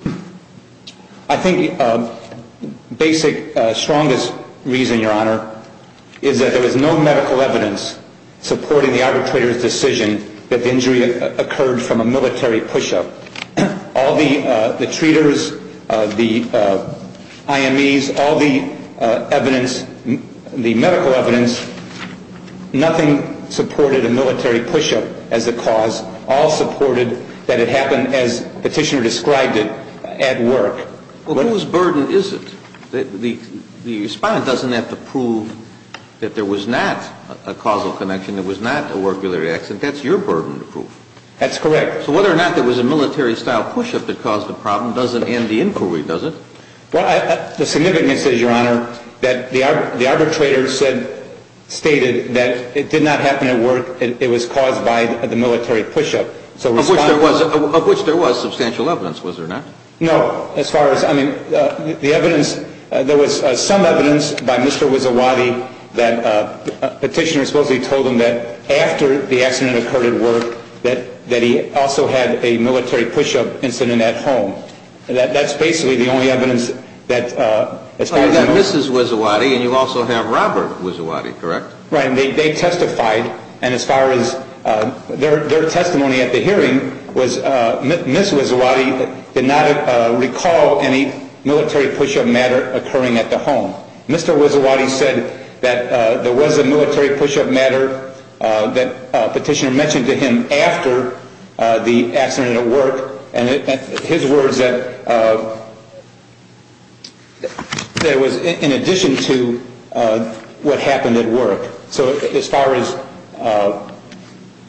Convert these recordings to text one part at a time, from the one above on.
I think the basic, strongest reason, Your Honor, is that there was no medical evidence supporting the arbitrator's decision that the injury occurred from a military push-up. All the treaters, the IMEs, all the evidence, the medical evidence, nothing supported a military push-up as the cause. All supported that it happened as Petitioner described it, at work. Well, whose burden is it? The respondent doesn't have to prove that there was not a causal connection, there was not a work-related accident. That's your burden to prove. That's correct. So whether or not there was a military-style push-up that caused the problem doesn't end the inquiry, does it? Well, the significance is, Your Honor, that the arbitrator stated that it did not happen at work, it was caused by the military push-up. Of which there was substantial evidence, was there not? No, as far as, I mean, the evidence, there was some evidence by Mr. Wizzowati that Petitioner supposedly told him that after the accident occurred at work, that he also had a military push-up incident at home. That's basically the only evidence that, as far as I know. Well, you have Mrs. Wizzowati and you also have Robert Wizzowati, correct? Right, and they testified, and as far as their testimony at the hearing was, Mrs. Wizzowati did not recall any military push-up matter occurring at the home. So as far as,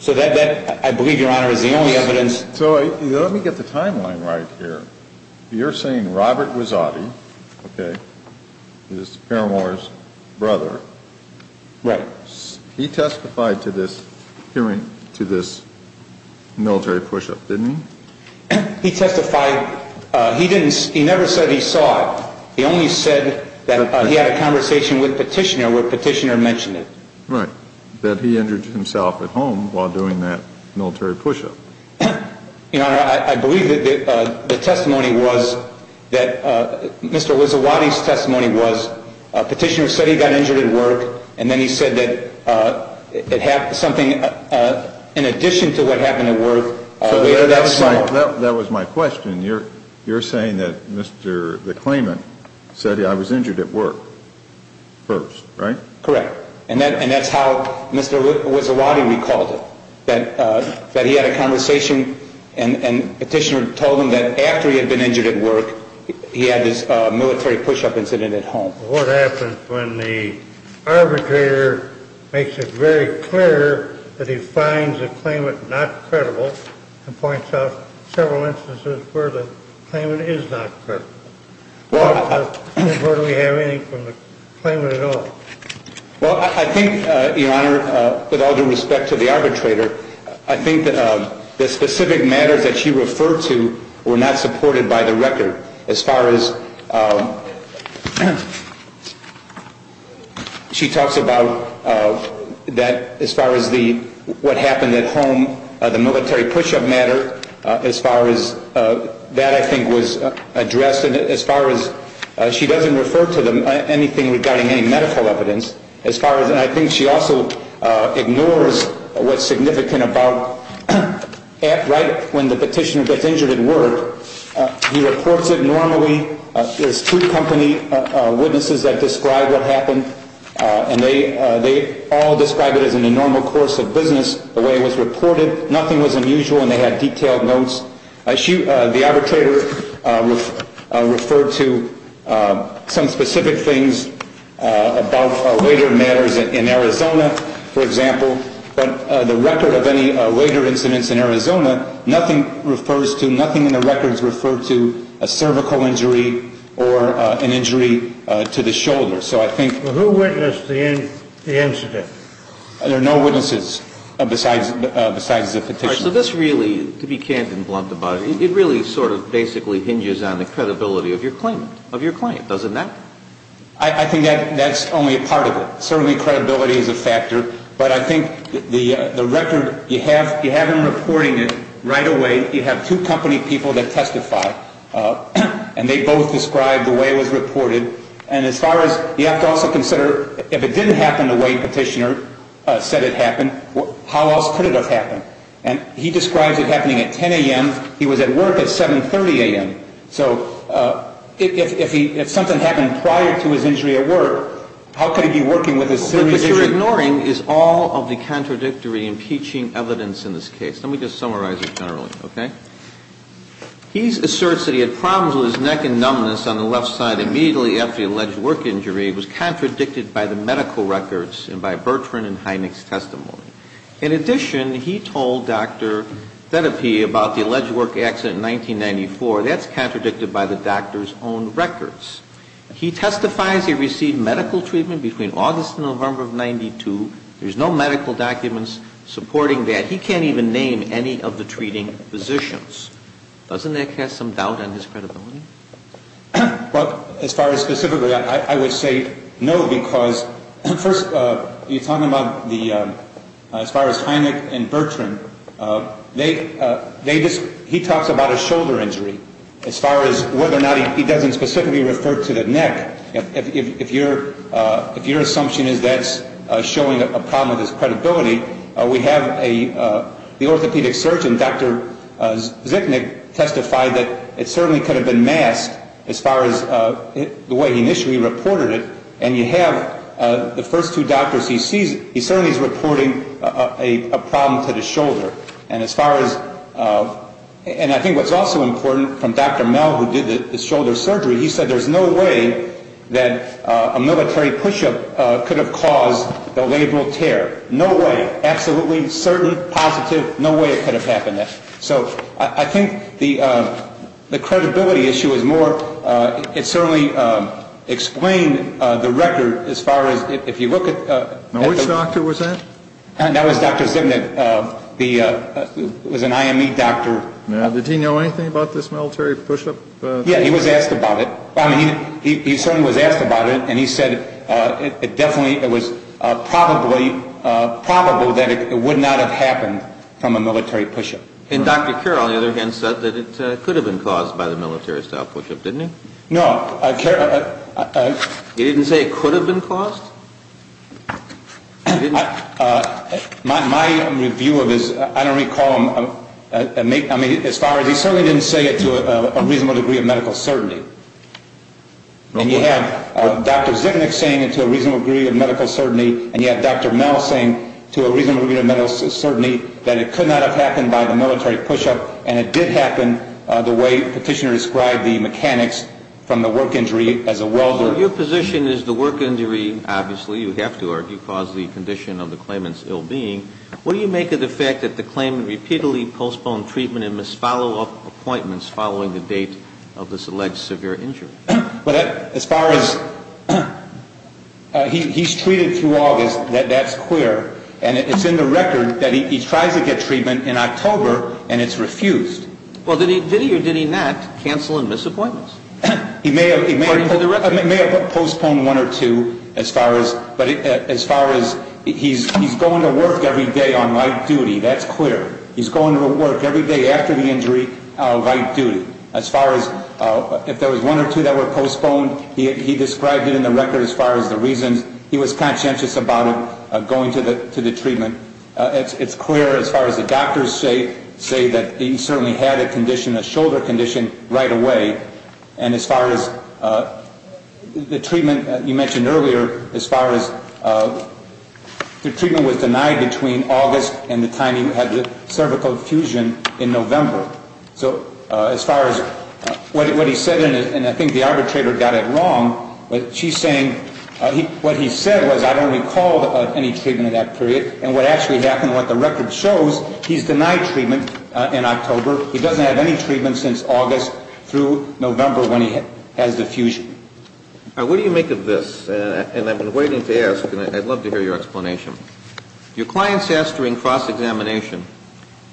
so that, I believe, Your Honor, is the only evidence. So let me get the timeline right here. You're saying Robert Wizzowati, okay, is Paramore's brother. Right. He testified to this military push-up, didn't he? He testified, he didn't, he never said he saw it. He only said that he had a conversation with Petitioner where Petitioner mentioned it. Right, that he injured himself at home while doing that military push-up. Your Honor, I believe that the testimony was, that Mr. Wizzowati's testimony was, Petitioner said he got injured at work, and then he said that something, in addition to what happened at work. That was my question. You're saying that Mr. the claimant said I was injured at work first, right? Correct. And that's how Mr. Wizzowati recalled it, that he had a conversation, and Petitioner told him that after he had been injured at work, he had this military push-up incident at home. What happens when the arbitrator makes it very clear that he finds the claimant not credible and points out several instances where the claimant is not credible? Where do we have anything from the claimant at all? Well, I think, Your Honor, with all due respect to the arbitrator, I think that the specific matters that you refer to were not supported by the record. As far as she talks about that, as far as what happened at home, the military push-up matter, as far as that, I think, was addressed. And as far as she doesn't refer to anything regarding any medical evidence, as far as, and I think she also ignores what's significant about right when the petitioner gets injured at work, he reports it normally. There's two company witnesses that describe what happened, and they all describe it as in the normal course of business, the way it was reported. Nothing was unusual, and they had detailed notes. The arbitrator referred to some specific things about later matters in Arizona, for example, but the record of any later incidents in Arizona, nothing refers to, nothing in the records referred to a cervical injury or an injury to the shoulder. So I think... Who witnessed the incident? There are no witnesses besides the petitioner. All right. So this really, to be candid and blunt about it, it really sort of basically hinges on the credibility of your claimant, of your client, doesn't that? I think that's only a part of it. Certainly credibility is a factor, but I think the record, you have him reporting it right away. You have two company people that testify, and they both describe the way it was reported. And as far as, you have to also consider, if it didn't happen the way the petitioner said it happened, how else could it have happened? And he describes it happening at 10 a.m. He was at work at 7.30 a.m. So if something happened prior to his injury at work, how could he be working with a serious injury? What you're ignoring is all of the contradictory impeaching evidence in this case. Let me just summarize it generally, okay? He asserts that he had problems with his neck and numbness on the left side immediately after the alleged work injury. It was contradicted by the medical records and by Bertrand and Hynek's testimony. In addition, he told Dr. Thedepy about the alleged work accident in 1994. That's contradicted by the doctor's own records. He testifies he received medical treatment between August and November of 92. There's no medical documents supporting that. He can't even name any of the treating physicians. Doesn't that cast some doubt on his credibility? Well, as far as specifically, I would say no because, first, you're talking about the, as far as Hynek and Bertrand, he talks about a shoulder injury. As far as whether or not he doesn't specifically refer to the neck, if your assumption is that's showing a problem with his credibility, we have the orthopedic surgeon, Dr. Zipnick, testify that it certainly could have been masked as far as the way he initially reported it. And you have the first two doctors he sees, he certainly is reporting a problem to the shoulder. And as far as, and I think what's also important from Dr. Mel who did the shoulder surgery, he said there's no way that a military push-up could have caused the labral tear. No way. Absolutely certain, positive, no way it could have happened there. So I think the credibility issue is more, it certainly explained the record as far as if you look at. Now, which doctor was that? That was Dr. Zipnick. It was an IME doctor. Now, did he know anything about this military push-up? Yeah, he was asked about it. He certainly was asked about it, and he said it definitely, it was probably, probable that it would not have happened from a military push-up. And Dr. Kerr, on the other hand, said that it could have been caused by the military-style push-up, didn't it? No. He didn't say it could have been caused? My review of his, I don't recall him, I mean, as far as he certainly didn't say it to a reasonable degree of medical certainty. And you have Dr. Zipnick saying it to a reasonable degree of medical certainty, and you have Dr. Mel saying to a reasonable degree of medical certainty that it could not have happened by the military push-up, and it did happen the way Petitioner described the mechanics from the work injury as a welder. Well, your position is the work injury, obviously, you have to argue, caused the condition of the claimant's ill-being. What do you make of the fact that the claimant repeatedly postponed treatment and missed follow-up appointments following the date of this alleged severe injury? Well, as far as he's treated through August, that's clear, and it's in the record that he tries to get treatment in October, and it's refused. Well, did he or did he not cancel and miss appointments? He may have postponed one or two, but as far as he's going to work every day on light duty, that's clear. He's going to work every day after the injury light duty. As far as if there was one or two that were postponed, he described it in the record as far as the reasons. He was conscientious about it, going to the treatment. It's clear as far as the doctors say that he certainly had a condition, a shoulder condition, right away, and as far as the treatment you mentioned earlier, as far as the treatment was denied between August and the time he had the cervical fusion in November. So as far as what he said, and I think the arbitrator got it wrong, but she's saying what he said was, I don't recall any treatment in that period, and what actually happened, what the record shows, he's denied treatment in October. He doesn't have any treatment since August through November when he has the fusion. Now, what do you make of this? And I've been waiting to ask, and I'd love to hear your explanation. Your client's asked during cross-examination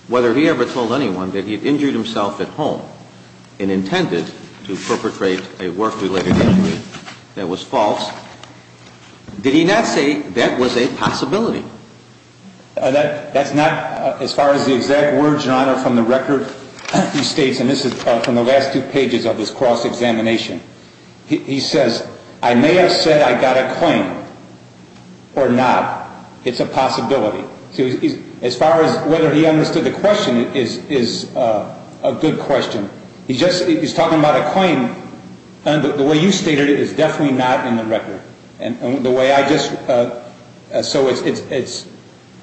whether he ever told anyone that he had injured himself at home and intended to perpetrate a work-related injury that was false. Did he not say that was a possibility? That's not, as far as the exact words, Your Honor, from the record he states, and this is from the last two pages of this cross-examination. He says, I may have said I got a claim or not. It's a possibility. As far as whether he understood the question, it is a good question. He's talking about a claim, and the way you stated it is definitely not in the record. And the way I just, so it's,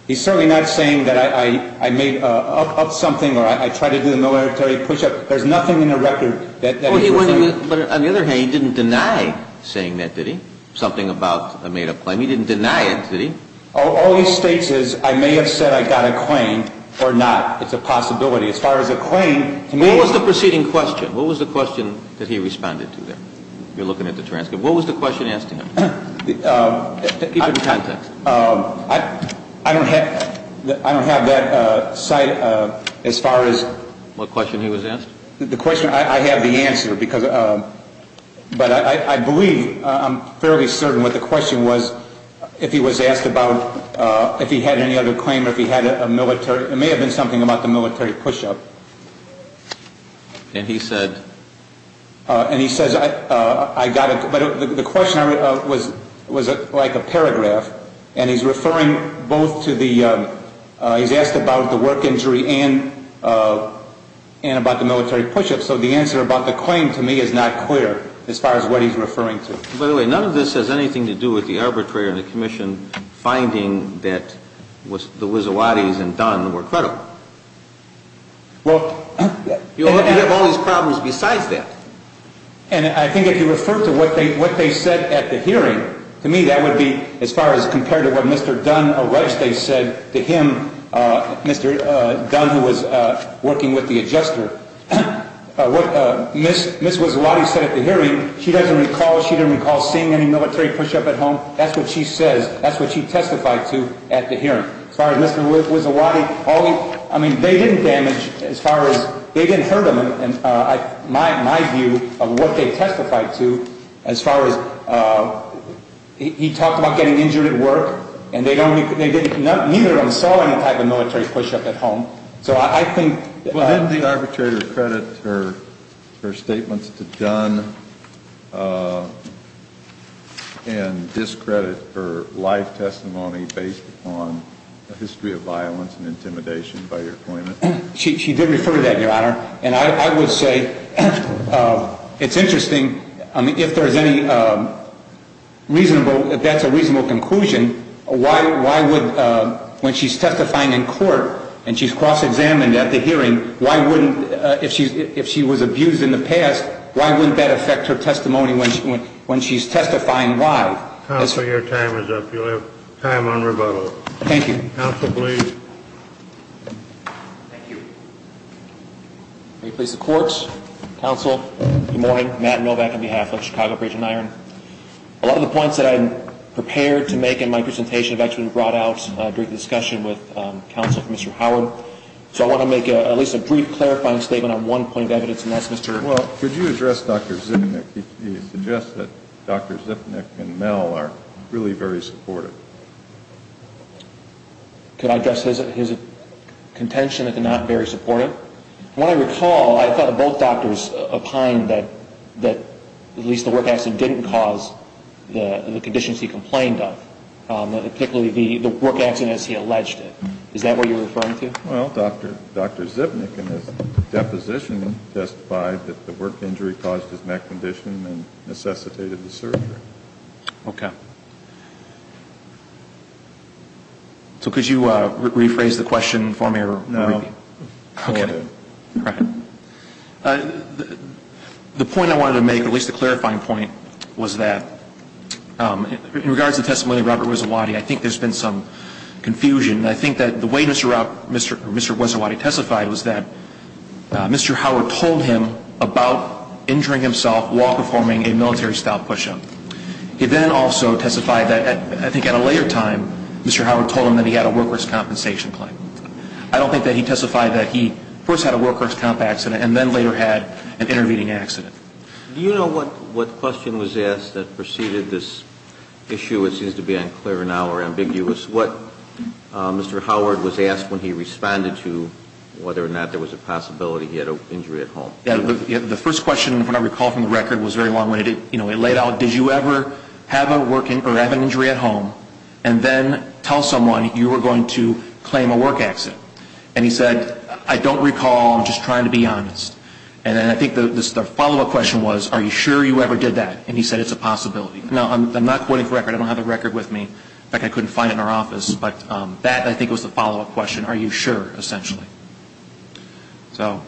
he's certainly not saying that I made up something or I tried to do the military push-up. There's nothing in the record that he referred to. But on the other hand, he didn't deny saying that, did he? Something about a made-up claim. He didn't deny it, did he? All he states is, I may have said I got a claim or not. It's a possibility. As far as a claim, to me. What was the preceding question? What was the question that he responded to there? You're looking at the transcript. What was the question asked to him? Keep it in context. I don't have that cite as far as. What question he was asked? The question, I have the answer because, but I believe, I'm fairly certain what the question was, if he was asked about if he had any other claim or if he had a military, it may have been something about the military push-up. And he said? And he says, I got it. But the question was like a paragraph. And he's referring both to the, he's asked about the work injury and about the military push-up. So the answer about the claim, to me, is not clear as far as what he's referring to. By the way, none of this has anything to do with the arbitrator and the commission finding that the Wissowattis and Don were credible. You have all these problems besides that. And I think if you refer to what they said at the hearing, to me, that would be as far as compared to what Mr. Dunn said to him, Mr. Dunn, who was working with the adjuster. What Ms. Wissowatti said at the hearing, she doesn't recall seeing any military push-up at home. That's what she says. That's what she testified to at the hearing. As far as Mr. Wissowatti, I mean, they didn't damage, as far as, they didn't hurt him. And my view of what they testified to, as far as, he talked about getting injured at work. And they don't, neither of them saw any type of military push-up at home. So I think. Didn't the arbitrator credit her statements to Dunn and discredit her live testimony based on a history of violence and intimidation by your appointment? She did refer to that, Your Honor. And I would say it's interesting, I mean, if there's any reasonable, if that's a reasonable conclusion, why would, when she's testifying in court and she's cross-examined at the hearing, why wouldn't, if she was abused in the past, why wouldn't that affect her testimony when she's testifying live? Counsel, your time is up. You'll have time on rebuttal. Thank you. Counsel, please. Thank you. May we please have the courts? Counsel, good morning. Matt Novak on behalf of Chicago Bridge and Iron. A lot of the points that I'm prepared to make in my presentation have actually been brought out during the discussion with counsel for Mr. Howard. So I want to make at least a brief clarifying statement on one point of evidence, and that's Mr. Well, could you address Dr. Zipnick? He suggests that Dr. Zipnick and Mel are really very supportive. Could I address his contention that they're not very supportive? When I recall, I thought both doctors opined that at least the work accident didn't cause the conditions he complained of, particularly the work accident as he alleged it. Is that what you're referring to? Well, Dr. Zipnick in his deposition testified that the work injury caused his neck condition and necessitated the surgery. Okay. So could you rephrase the question for me? No. Okay. Go ahead. The point I wanted to make, at least the clarifying point, was that in regards to the testimony of Robert Wizzawati, I think there's been some confusion. I think that the way Mr. Wizzawati testified was that Mr. Howard told him about injuring himself while performing a military-style push-up. He then also testified that I think at a later time Mr. Howard told him that he had a work risk compensation claim. I don't think that he testified that he first had a work risk comp accident and then later had an intervening accident. Do you know what question was asked that preceded this issue? It seems to be unclear now or ambiguous. What Mr. Howard was asked when he responded to whether or not there was a possibility he had an injury at home. The first question, if I recall from the record, was very long-winded. It laid out, did you ever have an injury at home and then tell someone you were going to claim a work accident? And he said, I don't recall. I'm just trying to be honest. And then I think the follow-up question was, are you sure you ever did that? And he said it's a possibility. Now, I'm not quoting from the record. I don't have the record with me. In fact, I couldn't find it in our office. But that, I think, was the follow-up question. Are you sure, essentially? So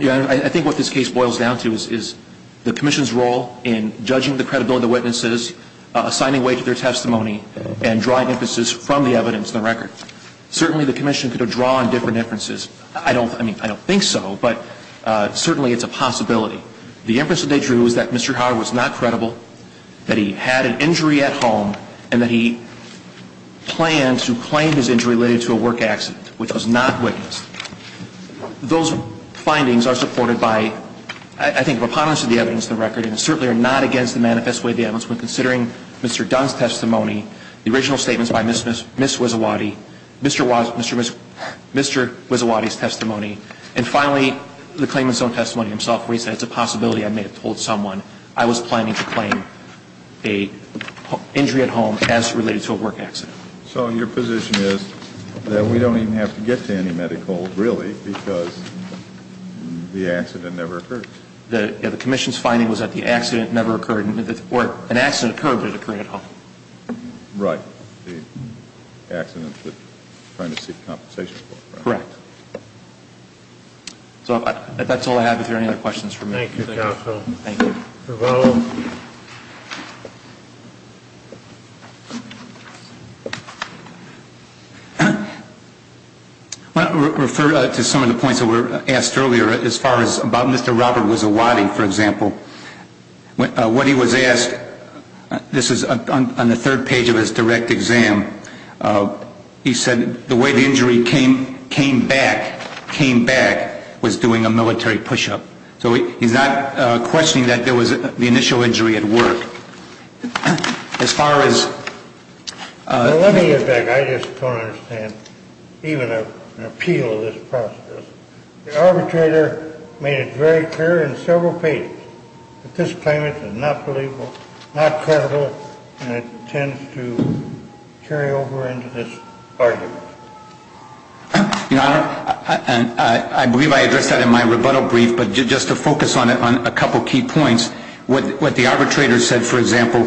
I think what this case boils down to is the Commission's role in judging the credibility of the witnesses, assigning weight to their testimony, and drawing emphasis from the evidence in the record. Certainly the Commission could have drawn different inferences. I don't think so, but certainly it's a possibility. The inference that they drew is that Mr. Howard was not credible, that he had an injury at home, and that he planned to claim his injury related to a work accident, which was not witnessed. Those findings are supported by, I think, preponderance of the evidence in the record, and certainly are not against the manifest way of the evidence. But considering Mr. Dunn's testimony, the original statements by Ms. Wizzawati, Mr. Wizzawati's testimony, and finally the claimant's own testimony himself, where he said it's a possibility I may have told someone I was planning to claim an injury at home as related to a work accident. So your position is that we don't even have to get to any medical, really, because the accident never occurred? The Commission's finding was that the accident never occurred, or an accident occurred, but it occurred at home. Right. The accident that we're trying to seek compensation for. Correct. So that's all I have. If there are any other questions for me. Thank you. I refer to some of the points that were asked earlier as far as about Mr. Robert Wizzawati, for example. What he was asked, this is on the third page of his direct exam, he said the way the injury came back was doing a military push-up. So he's not questioning that there was the initial injury at work. As far as... Let me get back. I just don't understand even an appeal of this process. The arbitrator made it very clear in several pages that this claimant is not believable, not credible, and intends to carry over into this argument. Your Honor, I believe I addressed that in my rebuttal brief, but just to focus on a couple key points, what the arbitrator said, for example,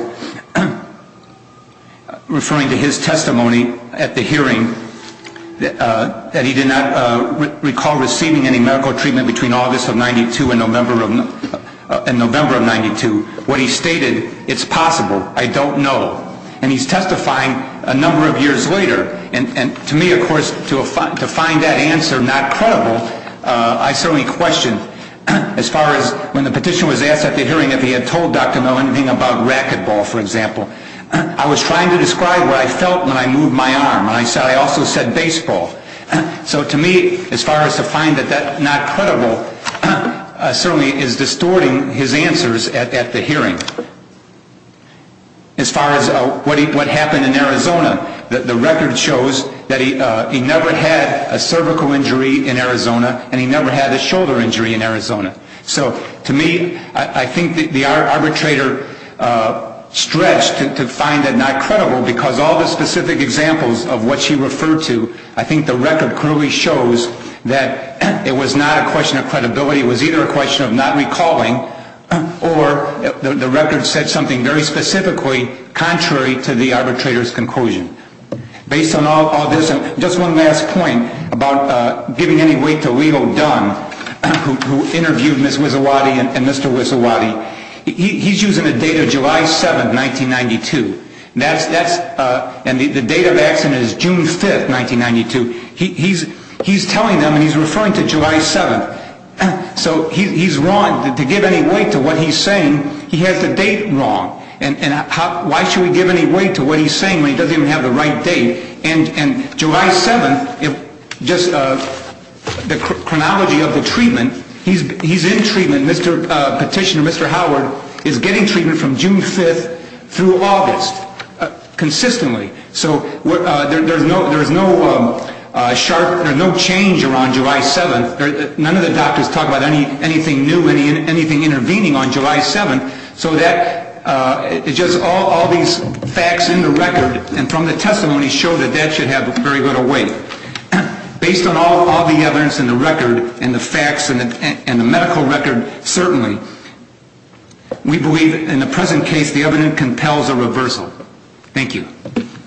referring to his testimony at the hearing that he did not recall receiving any medical treatment between August of 92 and November of 92. What he stated, it's possible, I don't know. And he's testifying a number of years later. And to me, of course, to find that answer not credible, I certainly question, as far as when the petition was asked at the hearing if he had told Dr. Mill anything about racquetball, for example. I was trying to describe what I felt when I moved my arm, and I also said baseball. So to me, as far as to find that not credible, certainly is distorting his answers at the hearing. As far as what happened in Arizona, the record shows that he never had a cervical injury in Arizona, and he never had a shoulder injury in Arizona. So to me, I think the arbitrator stretched to find it not credible because all the specific examples of what she referred to, I think the record clearly shows that it was not a question of credibility. It was either a question of not recalling, or the record said something very specifically contrary to the arbitrator's conclusion. Based on all this, and just one last point about giving any weight to Leo Dunn, who interviewed Ms. Wissowati and Mr. Wissowati. He's using a date of July 7, 1992, and the date of accident is June 5, 1992. He's telling them, and he's referring to July 7. So he's wrong. To give any weight to what he's saying, he has the date wrong. And why should we give any weight to what he's saying when he doesn't even have the right date? And July 7, just the chronology of the treatment, he's in treatment. Petitioner Mr. Howard is getting treatment from June 5 through August, consistently. So there's no change around July 7. None of the doctors talk about anything new, anything intervening on July 7. So just all these facts in the record, and from the testimony, show that that should have very little weight. Based on all the evidence in the record, and the facts, and the medical record, certainly, we believe in the present case the evidence compels a reversal. Thank you.